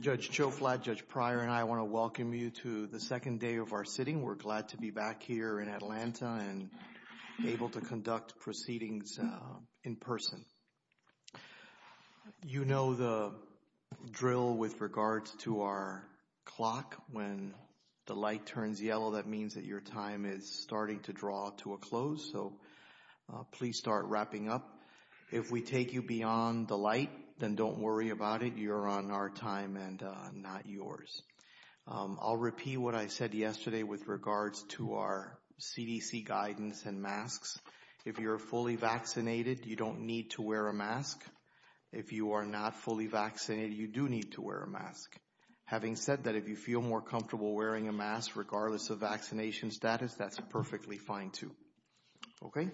Judge Joe Flatt, Judge Pryor, and I want to welcome you to the second day of our sitting. We're glad to be back here in Atlanta and able to conduct proceedings in person. You know the drill with regards to our clock. When the light turns yellow, that means that your time is starting to draw to a close, so please start wrapping up. If we take you beyond the light, then don't worry about it. You're on our time and not yours. I'll repeat what I said yesterday with regards to our CDC guidance and masks. If you're fully vaccinated, you don't need to wear a mask. If you are not fully vaccinated, you do need to wear a mask. Having said that, if you feel more comfortable wearing a mask regardless of vaccination status, that's perfectly fine too. OK.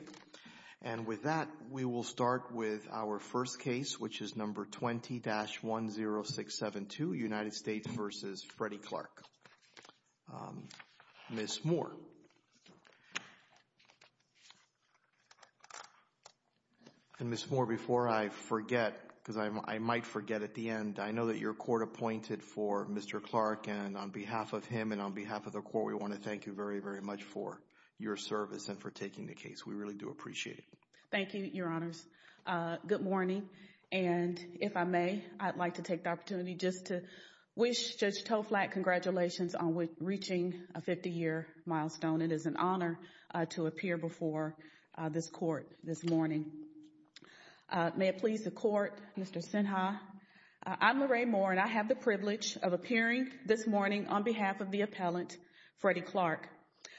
And with that, we will start with our first case, which is number 20-10672, United States v. Freddie Clark. Ms. Moore. And Ms. Moore, before I forget, because I might forget at the end, I know that your court appointed for Mr. Clark and on behalf of him and on behalf of the court, we want to thank you very, very much for your service and for taking the case. We really do appreciate it. Thank you, Your Honors. Good morning. And if I may, I'd like to take the opportunity just to wish Judge Toflak congratulations on reaching a 50 year milestone. It is an honor to appear before this court this morning. May it please the court, Mr. Sinha. I'm Lorraine Moore and I have the privilege of appearing this morning on behalf of the appellant, Freddie Clark.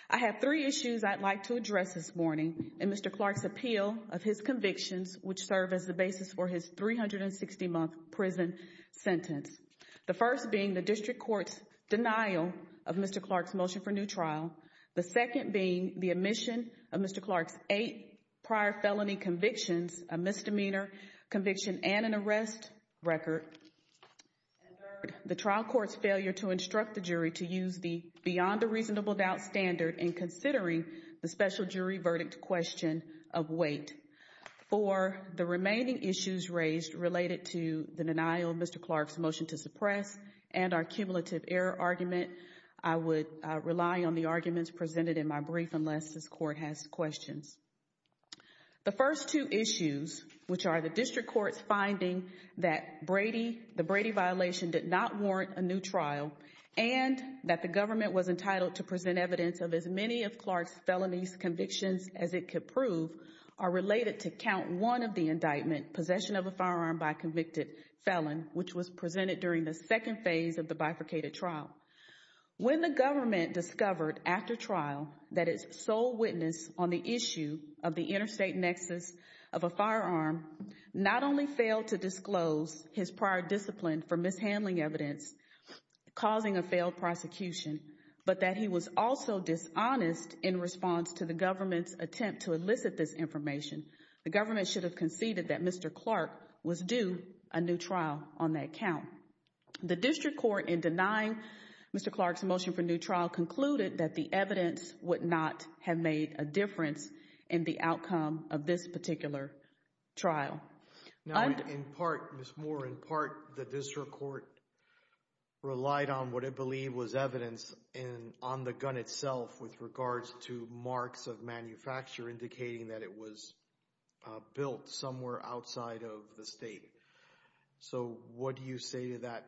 I have three issues I'd like to address this morning in Mr. Clark's appeal of his convictions, which serve as the basis for his 360 month prison sentence. The first being the district court's denial of Mr. Clark's motion for new trial. The second being the omission of Mr. Clark's eight prior felony convictions, a misdemeanor conviction and an arrest record. And third, the trial court's failure to instruct the jury to use the beyond a reasonable doubt standard in considering the special jury verdict question of weight. For the remaining issues raised related to the denial of Mr. Clark's motion to suppress and our cumulative error argument, I would rely on the arguments presented in my brief unless this court has questions. The first two issues, which are the district court's finding that Brady, the Brady violation did not warrant a new trial, and that the government was entitled to present evidence of as many of Clark's felonies convictions as it could prove, are related to count one of the indictment, possession of a firearm by a convicted felon, which was presented during the second phase of the bifurcated trial. When the government discovered after trial that its sole witness on the issue of the interstate nexus of a firearm not only failed to disclose his prior discipline for mishandling evidence, causing a failed prosecution, but that he was also dishonest in response to the government's attempt to elicit this information, the government should have conceded that Mr. Clark was due a new trial on that count. The district court in denying Mr. Clark's motion for new trial concluded that the evidence would not have made a difference in the outcome of this particular trial. In part, Ms. Moore, in part, the district court relied on what it believed was evidence on the gun itself with regards to marks of manufacture indicating that it was built somewhere outside of the state. So what do you say to that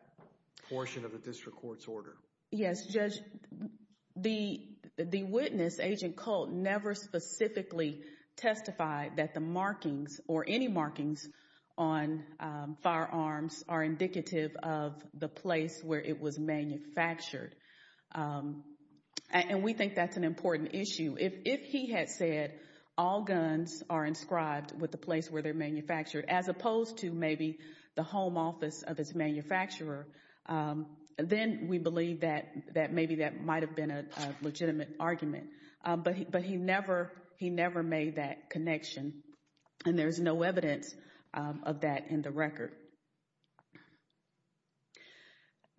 portion of the district court's order? Yes, Judge, the witness, Agent Colt, never specifically testified that the markings or any markings on firearms are indicative of the place where it was manufactured. And we think that's an important issue. If he had said all guns are inscribed with the place where they're manufactured, as opposed to maybe the home office of its manufacturer, then we believe that maybe that might have been a legitimate argument. But he never made that connection, and there's no evidence of that in the record.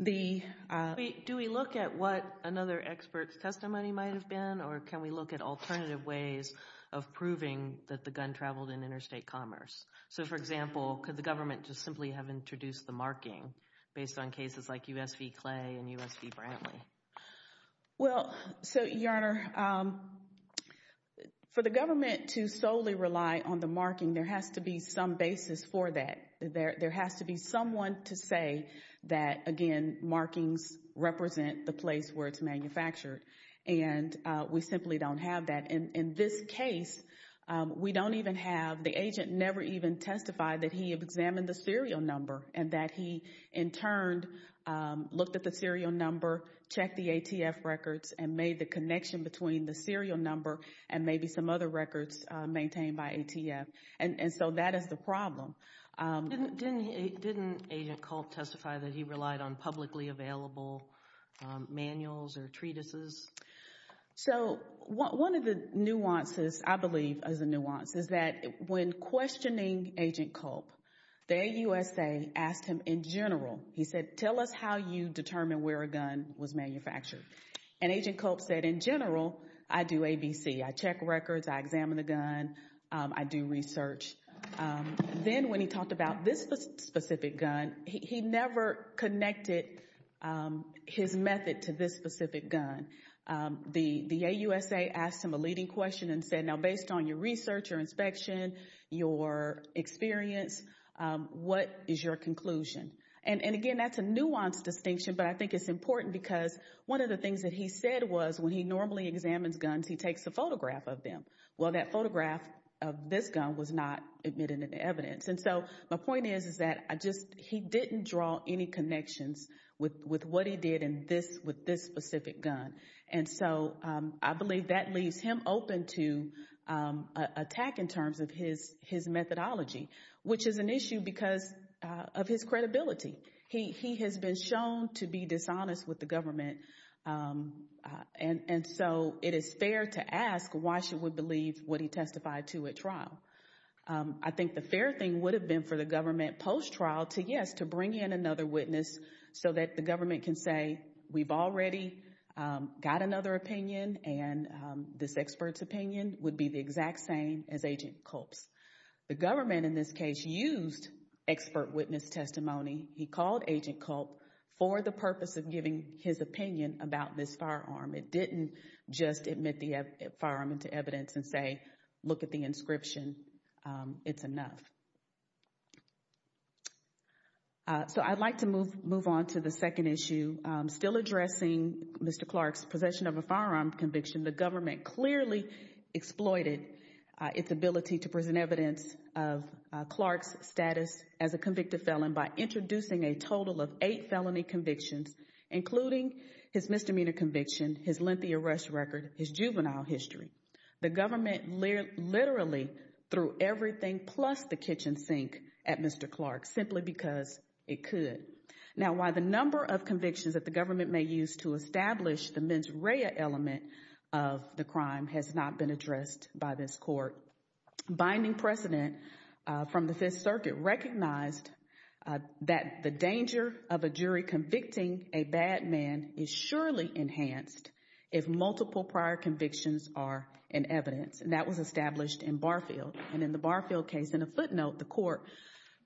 Do we look at what another expert's testimony might have been, or can we look at alternative ways of proving that the gun traveled in interstate commerce? So, for example, could the government just simply have introduced the marking based on cases like U.S. v. Clay and U.S. v. Brantley? Well, so, Your Honor, for the government to solely rely on the marking, there has to be some basis for that. There has to be someone to say that, again, markings represent the place where it's manufactured. And we simply don't have that. In this case, we don't even have – the agent never even testified that he had examined the serial number and that he, in turn, looked at the serial number, checked the ATF records, and made the connection between the serial number and maybe some other records maintained by ATF. And so that is the problem. Didn't Agent Culp testify that he relied on publicly available manuals or treatises? So one of the nuances, I believe, is a nuance, is that when questioning Agent Culp, the AUSA asked him in general. He said, tell us how you determine where a gun was manufactured. And Agent Culp said, in general, I do ABC. I check records. I examine the gun. I do research. Then when he talked about this specific gun, he never connected his method to this specific gun. The AUSA asked him a leading question and said, now, based on your research, your inspection, your experience, what is your conclusion? And, again, that's a nuanced distinction, but I think it's important because one of the things that he said was when he normally examines guns, he takes a photograph of them. Well, that photograph of this gun was not admitted into evidence. And so my point is that he didn't draw any connections with what he did with this specific gun. And so I believe that leaves him open to attack in terms of his methodology, which is an issue because of his credibility. He has been shown to be dishonest with the government. And so it is fair to ask why she would believe what he testified to at trial. I think the fair thing would have been for the government post-trial to, yes, to bring in another witness so that the government can say, we've already got another opinion, and this expert's opinion would be the exact same as Agent Culp's. The government in this case used expert witness testimony he called Agent Culp for the purpose of giving his opinion about this firearm. It didn't just admit the firearm into evidence and say, look at the inscription. It's enough. So I'd like to move on to the second issue. Still addressing Mr. Clark's possession of a firearm conviction, the government clearly exploited its ability to present evidence of Clark's status as a convicted felon by introducing a total of eight felony convictions, including his misdemeanor conviction, his lengthy arrest record, his juvenile history. The government literally threw everything plus the kitchen sink at Mr. Clark simply because it could. Now, while the number of convictions that the government may use to establish the mens rea element of the crime has not been addressed by this court, binding precedent from the Fifth Circuit recognized that the danger of a jury convicting a bad man is surely enhanced if multiple prior convictions are in evidence. And that was established in Barfield. And in the Barfield case, in a footnote, the court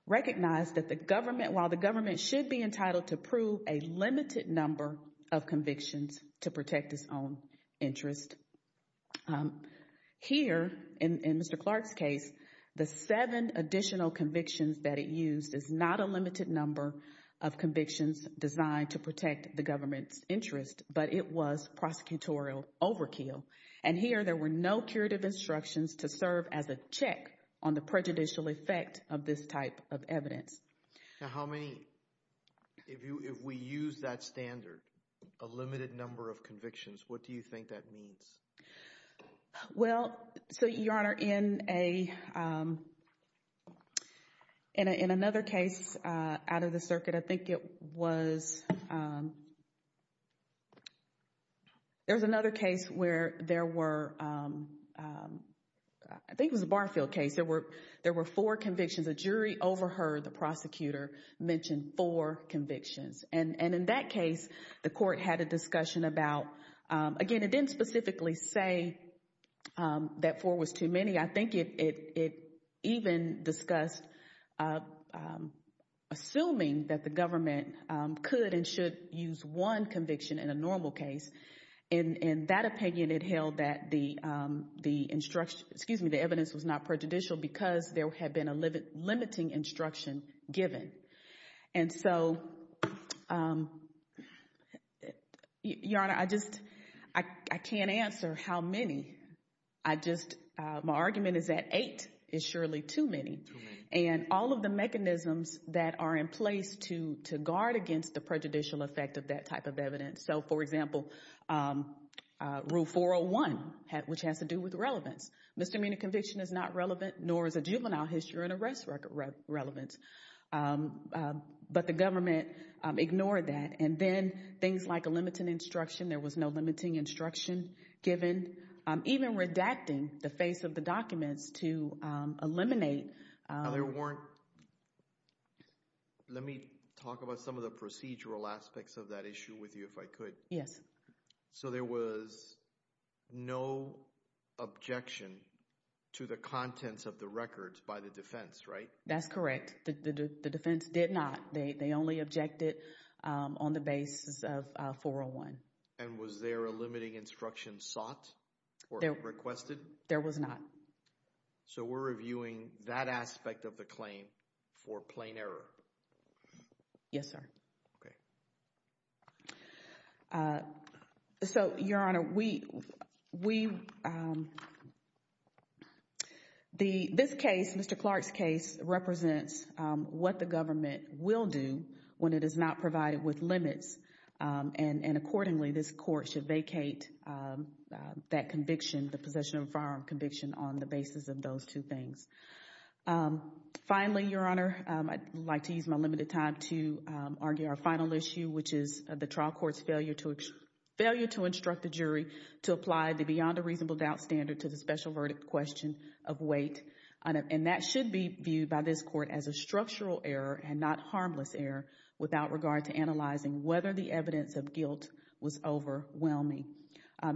recognized that the government, while the government should be entitled to prove a limited number of convictions to protect its own interest. Here in Mr. Clark's case, the seven additional convictions that it used is not a limited number of convictions designed to protect the government's interest, but it was prosecutorial overkill. And here there were no curative instructions to serve as a check on the prejudicial effect of this type of evidence. Now, how many, if we use that standard, a limited number of convictions, what do you think that means? Well, so, Your Honor, in another case out of the circuit, I think it was, there was another case where there were, I think it was a Barfield case. There were four convictions. A jury overheard the prosecutor mention four convictions. And in that case, the court had a discussion about, again, it didn't specifically say that four was too many. I think it even discussed assuming that the government could and should use one conviction in a normal case. In that opinion, it held that the instruction, excuse me, the evidence was not prejudicial because there had been a limiting instruction given. And so, Your Honor, I just, I can't answer how many. I just, my argument is that eight is surely too many. And all of the mechanisms that are in place to guard against the prejudicial effect of that type of evidence. So, for example, Rule 401, which has to do with relevance. Misdemeanor conviction is not relevant, nor is a juvenile history and arrest record relevant. But the government ignored that. And then things like a limiting instruction, there was no limiting instruction given. Even redacting the face of the documents to eliminate. Now there weren't, let me talk about some of the procedural aspects of that issue with you if I could. Yes. So there was no objection to the contents of the records by the defense, right? That's correct. The defense did not. They only objected on the basis of 401. And was there a limiting instruction sought or requested? There was not. So we're reviewing that aspect of the claim for plain error. Yes, sir. Okay. So, Your Honor, this case, Mr. Clark's case, represents what the government will do when it is not provided with limits. And accordingly, this court should vacate that conviction, the possession of firearm conviction, on the basis of those two things. Finally, Your Honor, I'd like to use my limited time to argue our final issue, which is the trial court's failure to instruct the jury to apply the beyond a reasonable doubt standard to the special verdict question of weight. And that should be viewed by this court as a structural error and not harmless error without regard to analyzing whether the evidence of guilt was overwhelming.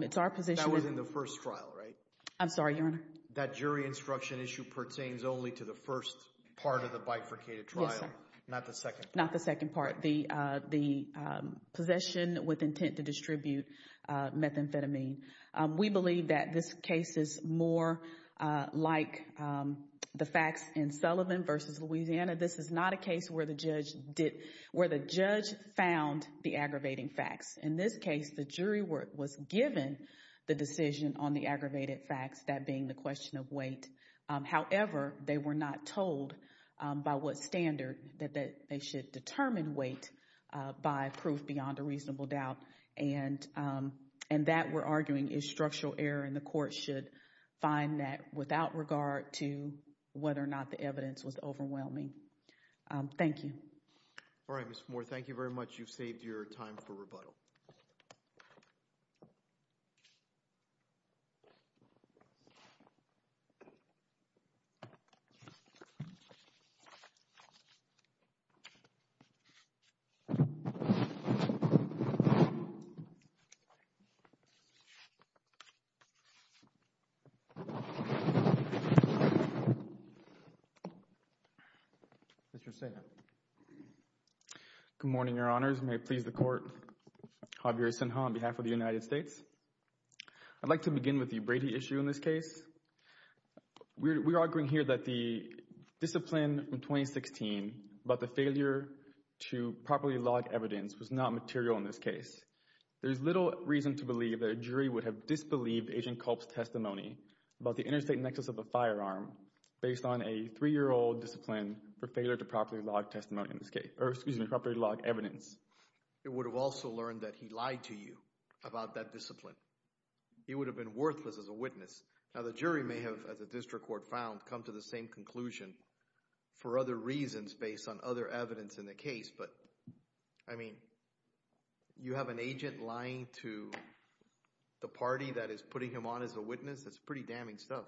It's our position. That was in the first trial, right? I'm sorry, Your Honor. That jury instruction issue pertains only to the first part of the bifurcated trial. Yes, sir. Not the second part. Not the second part. The possession with intent to distribute methamphetamine. We believe that this case is more like the facts in Sullivan v. Louisiana. This is not a case where the judge found the aggravating facts. In this case, the jury was given the decision on the aggravated facts, that being the question of weight. However, they were not told by what standard that they should determine weight by proof beyond a reasonable doubt. And that, we're arguing, is structural error, and the court should find that without regard to whether or not the evidence was overwhelming. Thank you. All right, Ms. Moore, thank you very much. You've saved your time for rebuttal. Mr. Sinner. Good morning, Your Honors. May it please the Court, Javier Sinner on behalf of the United States. I'd like to begin with the Brady issue in this case. We're arguing here that the discipline in 2016 about the failure to properly log evidence was not material in this case. There's little reason to believe that a jury would have disbelieved Agent Culp's testimony about the interstate nexus of a firearm based on a 3-year-old discipline for failure to properly log testimony in this case – or excuse me, properly log evidence. It would have also learned that he lied to you about that discipline. He would have been worthless as a witness. Now the jury may have, as the district court found, come to the same conclusion for other reasons based on other evidence in the case. But, I mean, you have an agent lying to the party that is putting him on as a witness. That's pretty damning stuff.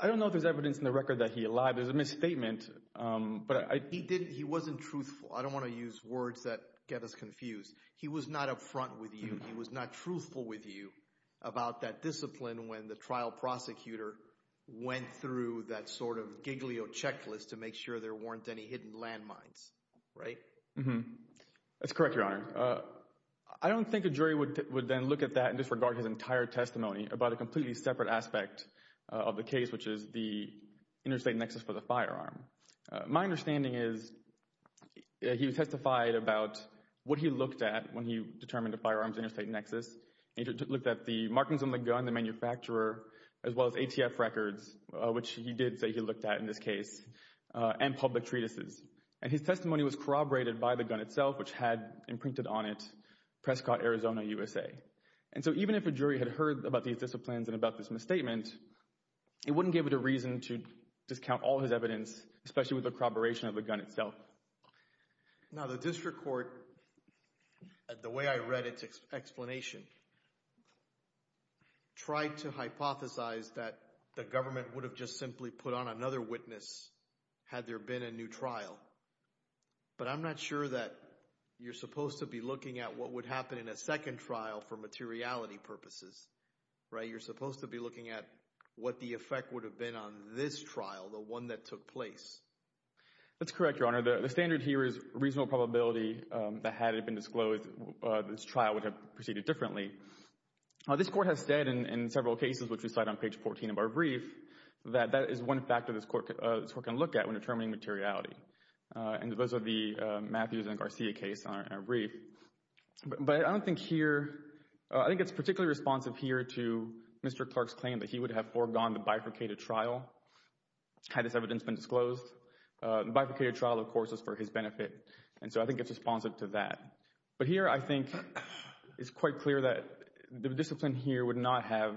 I don't know if there's evidence in the record that he lied. There's a misstatement. He wasn't truthful. I don't want to use words that get us confused. He was not up front with you. He was not truthful with you about that discipline when the trial prosecutor went through that sort of giglio checklist to make sure there weren't any hidden landmines. Right? That's correct, Your Honor. I don't think a jury would then look at that and disregard his entire testimony about a completely separate aspect of the case, which is the interstate nexus for the firearm. My understanding is he testified about what he looked at when he determined a firearm's interstate nexus. He looked at the markings on the gun, the manufacturer, as well as ATF records, which he did say he looked at in this case, and public treatises. And his testimony was corroborated by the gun itself, which had imprinted on it Prescott, Arizona, USA. And so even if a jury had heard about these disciplines and about this misstatement, it wouldn't give it a reason to discount all his evidence, especially with the corroboration of the gun itself. Now, the district court, the way I read its explanation, tried to hypothesize that the government would have just simply put on another witness had there been a new trial. But I'm not sure that you're supposed to be looking at what would happen in a second trial for materiality purposes. Right? You're supposed to be looking at what the effect would have been on this trial, the one that took place. That's correct, Your Honor. The standard here is reasonable probability that had it been disclosed, this trial would have proceeded differently. This court has said in several cases, which we cite on page 14 of our brief, that that is one factor this court can look at when determining materiality. And those are the Matthews and Garcia case in our brief. But I don't think here – I think it's particularly responsive here to Mr. Clark's claim that he would have foregone the bifurcated trial had this evidence been disclosed. The bifurcated trial, of course, is for his benefit. And so I think it's responsive to that. But here I think it's quite clear that the discipline here would not have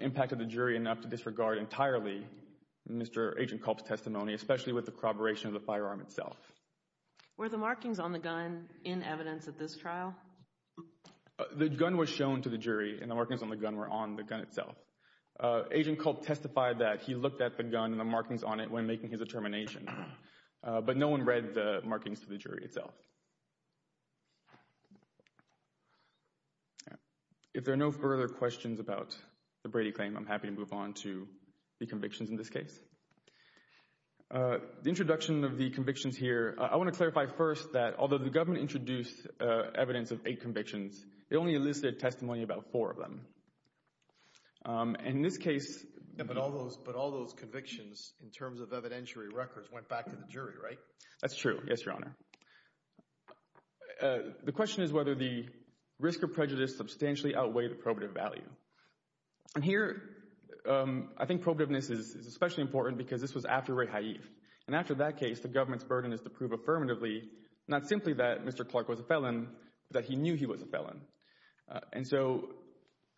impacted the jury enough to disregard entirely Mr. Agent Culp's testimony, especially with the corroboration of the firearm itself. Were the markings on the gun in evidence at this trial? The gun was shown to the jury, and the markings on the gun were on the gun itself. Agent Culp testified that he looked at the gun and the markings on it when making his determination. But no one read the markings to the jury itself. If there are no further questions about the Brady claim, I'm happy to move on to the convictions in this case. The introduction of the convictions here – I want to clarify first that although the government introduced evidence of eight convictions, they only elicited testimony about four of them. And in this case – But all those convictions in terms of evidentiary records went back to the jury, right? That's true. Yes, Your Honor. The question is whether the risk or prejudice substantially outweighed the probative value. Here, I think probativeness is especially important because this was after Ray Haif. And after that case, the government's burden is to prove affirmatively, not simply that Mr. Clark was a felon, but that he knew he was a felon. And so,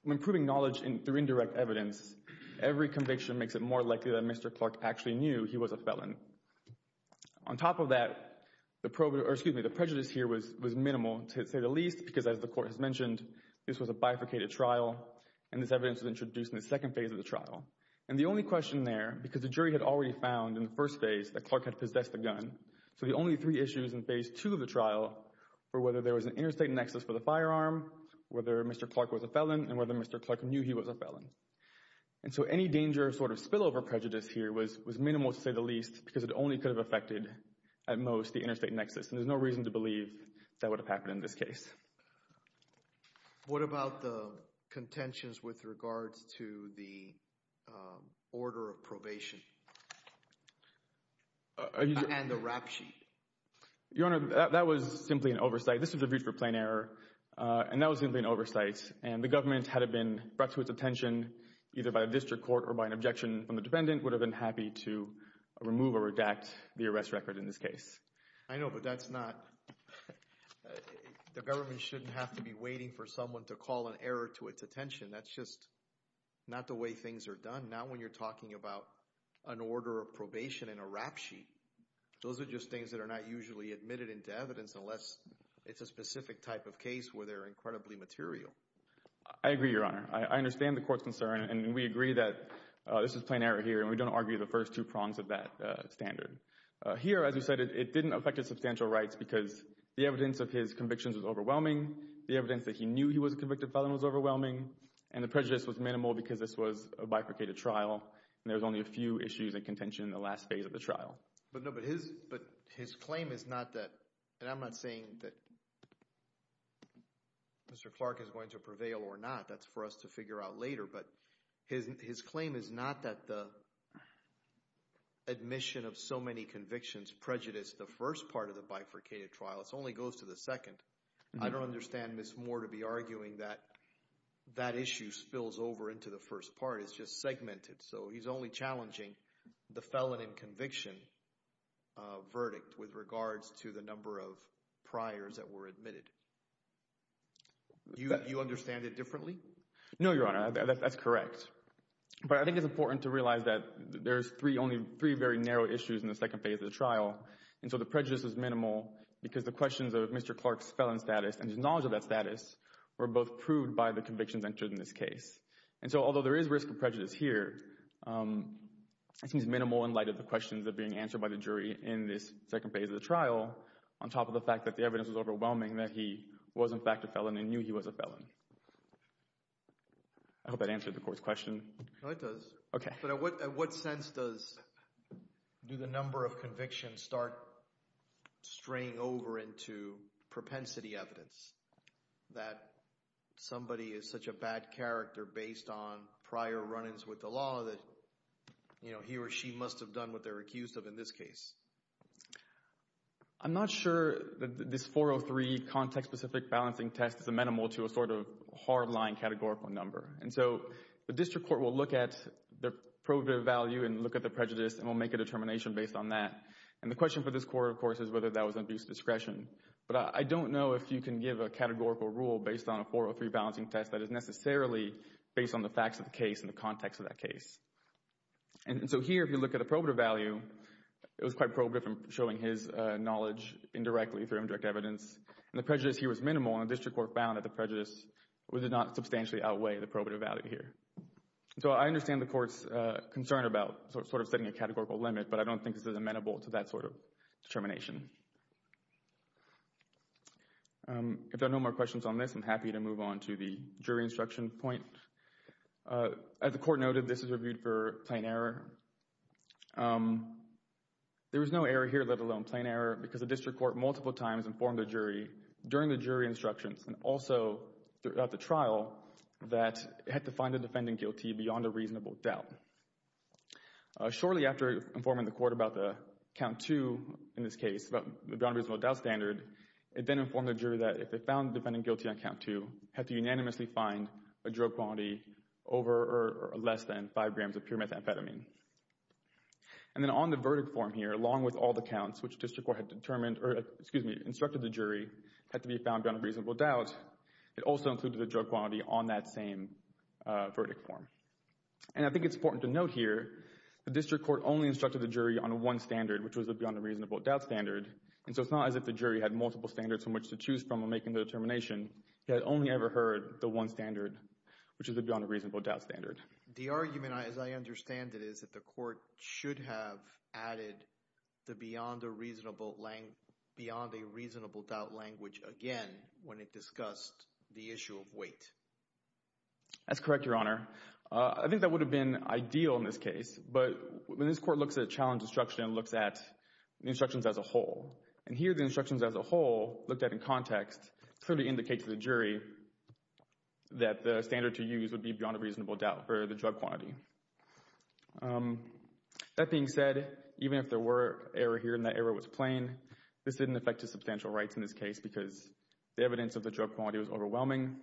when proving knowledge through indirect evidence, every conviction makes it more likely that Mr. Clark actually knew he was a felon. On top of that, the prejudice here was minimal, to say the least, because as the Court has mentioned, this was a bifurcated trial, and this evidence was introduced in the second phase of the trial. And the only question there, because the jury had already found in the first phase that Clark had possessed a gun, so the only three issues in phase two of the trial were whether there was an interstate nexus for the firearm, whether Mr. Clark was a felon, and whether Mr. Clark knew he was a felon. And so, any danger of sort of spillover prejudice here was minimal, to say the least, because it only could have affected, at most, the interstate nexus. And there's no reason to believe that would have happened in this case. What about the contentions with regards to the order of probation and the rap sheet? Your Honor, that was simply an oversight. This was reviewed for plain error, and that was simply an oversight. And the government, had it been brought to its attention either by a district court or by an objection from the defendant, would have been happy to remove or redact the arrest record in this case. I know, but that's not – the government shouldn't have to be waiting for someone to call an error to its attention. That's just not the way things are done, not when you're talking about an order of probation and a rap sheet. Those are just things that are not usually admitted into evidence unless it's a specific type of case where they're incredibly material. I agree, Your Honor. I understand the court's concern, and we agree that this is plain error here, and we don't argue the first two prongs of that standard. Here, as you said, it didn't affect his substantial rights because the evidence of his convictions was overwhelming. The evidence that he knew he was a convicted felon was overwhelming, and the prejudice was minimal because this was a bifurcated trial. And there was only a few issues and contention in the last phase of the trial. But no, but his claim is not that – and I'm not saying that Mr. Clark is going to prevail or not. That's for us to figure out later. But his claim is not that the admission of so many convictions prejudiced the first part of the bifurcated trial. It only goes to the second. I don't understand Ms. Moore to be arguing that that issue spills over into the first part. It's just segmented, so he's only challenging the felon in conviction verdict with regards to the number of priors that were admitted. Do you understand it differently? No, Your Honor. That's correct. But I think it's important to realize that there's only three very narrow issues in the second phase of the trial. And so the prejudice is minimal because the questions of Mr. Clark's felon status and his knowledge of that status were both proved by the convictions entered in this case. And so although there is risk of prejudice here, it seems minimal in light of the questions that are being answered by the jury in this second phase of the trial, on top of the fact that the evidence was overwhelming that he was in fact a felon and knew he was a felon. I hope that answered the court's question. No, it does. Okay. But in what sense does – do the number of convictions start straying over into propensity evidence, that somebody is such a bad character based on prior run-ins with the law that he or she must have done what they were accused of in this case? I'm not sure that this 403 context-specific balancing test is a minimal to a sort of hardline categorical number. And so the district court will look at the probative value and look at the prejudice and will make a determination based on that. And the question for this court, of course, is whether that was undue discretion. But I don't know if you can give a categorical rule based on a 403 balancing test that is necessarily based on the facts of the case and the context of that case. And so here, if you look at the probative value, it was quite probative in showing his knowledge indirectly through indirect evidence. And the prejudice here was minimal, and the district court found that the prejudice did not substantially outweigh the probative value here. So I understand the court's concern about sort of setting a categorical limit, but I don't think this is amenable to that sort of determination. If there are no more questions on this, I'm happy to move on to the jury instruction point. As the court noted, this is reviewed for plain error. There was no error here, let alone plain error, because the district court multiple times informed the jury during the jury instructions and also throughout the trial that it had to find the defendant guilty beyond a reasonable doubt. Shortly after informing the court about the count two in this case, about the beyond reasonable doubt standard, it then informed the jury that if they found the defendant guilty on count two, they had to unanimously find a drug quality over or less than five grams of pure methamphetamine. And then on the verdict form here, along with all the counts which the district court had determined, or excuse me, instructed the jury had to be found beyond a reasonable doubt, it also included the drug quality on that same verdict form. And I think it's important to note here the district court only instructed the jury on one standard, which was the beyond a reasonable doubt standard, and so it's not as if the jury had multiple standards from which to choose from in making the determination. It only ever heard the one standard, which is the beyond a reasonable doubt standard. The argument, as I understand it, is that the court should have added the beyond a reasonable doubt language again when it discussed the issue of weight. That's correct, Your Honor. I think that would have been ideal in this case. But when this court looks at a challenge instruction and looks at the instructions as a whole, and here the instructions as a whole looked at in context, clearly indicates to the jury that the standard to use would be beyond a reasonable doubt for the drug quantity. That being said, even if there were error here and that error was plain, this didn't affect his substantial rights in this case because the evidence of the drug quality was overwhelming.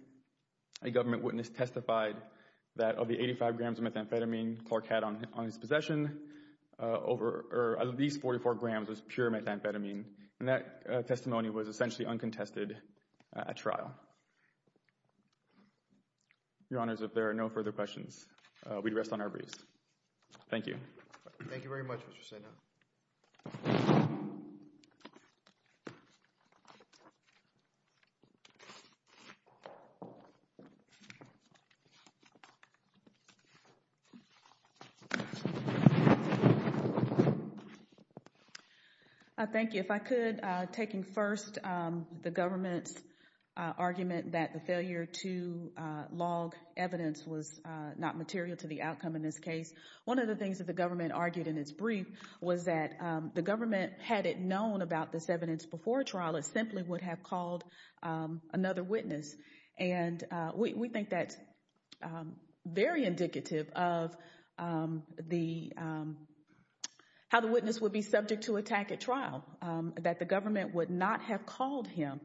A government witness testified that of the 85 grams of methamphetamine Clark had on his possession, at least 44 grams was pure methamphetamine. And that testimony was essentially uncontested at trial. Your Honors, if there are no further questions, we'd rest on our wreaths. Thank you. Thank you very much, Mr. Sena. Thank you. If I could, taking first the government's argument that the failure to log evidence was not material to the outcome in this case, one of the things that the government argued in its brief was that the government, had it known about this evidence before trial, it simply would have called another witness. And we think that's very indicative of how the witness would be subject to attack at trial, that the government would not have called him.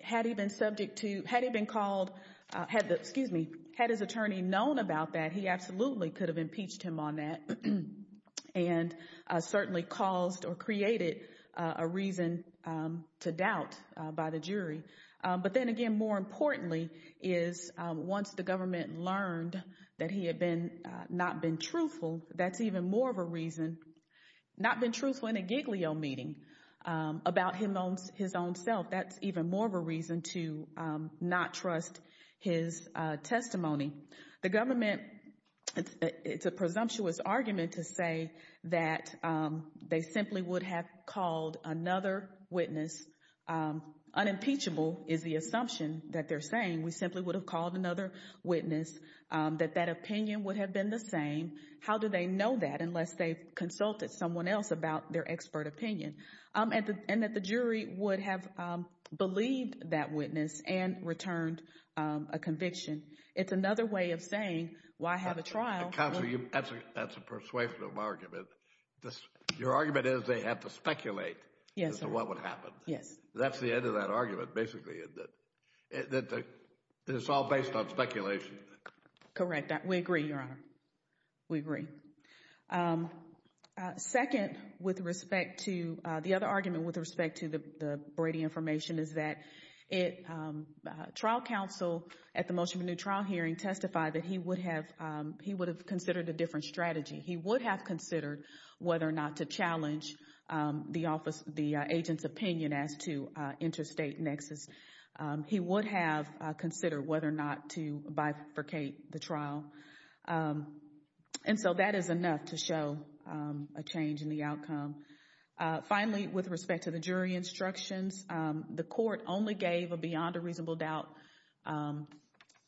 Had he been called, had his attorney known about that, he absolutely could have impeached him on that and certainly caused or created a reason to doubt by the jury. But then again, more importantly, is once the government learned that he had not been truthful, that's even more of a reason, not been truthful in a Giglio meeting about his own self, that's even more of a reason to not trust his testimony. The government, it's a presumptuous argument to say that they simply would have called another witness. Unimpeachable is the assumption that they're saying. We simply would have called another witness, that that opinion would have been the same. How do they know that unless they've consulted someone else about their expert opinion? And that the jury would have believed that witness and returned a conviction. It's another way of saying, well, I have a trial. Counsel, that's a persuasive argument. Your argument is they have to speculate as to what would happen. Yes. That's the end of that argument, basically, that it's all based on speculation. Correct. We agree, Your Honor. We agree. Second, with respect to the other argument with respect to the Brady information, is that trial counsel at the motion for new trial hearing testified that he would have considered a different strategy. He would have considered whether or not to challenge the agent's opinion as to interstate nexus. He would have considered whether or not to bifurcate the trial. And so that is enough to show a change in the outcome. Finally, with respect to the jury instructions, the court only gave a beyond a reasonable doubt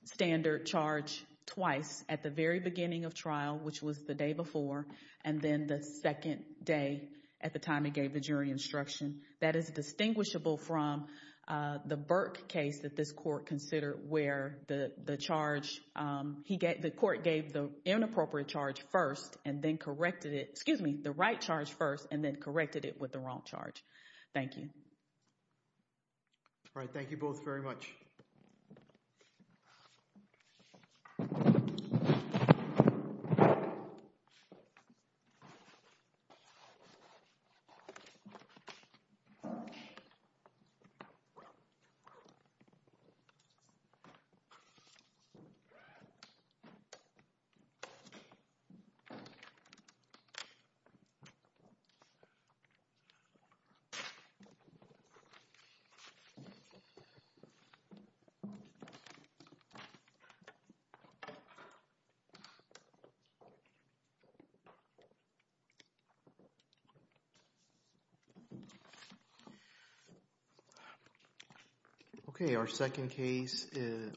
standard charge twice at the very beginning of trial, which was the day before, and then the second day at the time he gave the jury instruction. That is distinguishable from the Burke case that this court considered where the charge, the court gave the inappropriate charge first and then corrected it, excuse me, the right charge first and then corrected it with the wrong charge. Thank you. All right. Thank you both very much. All right. OK, our second case is.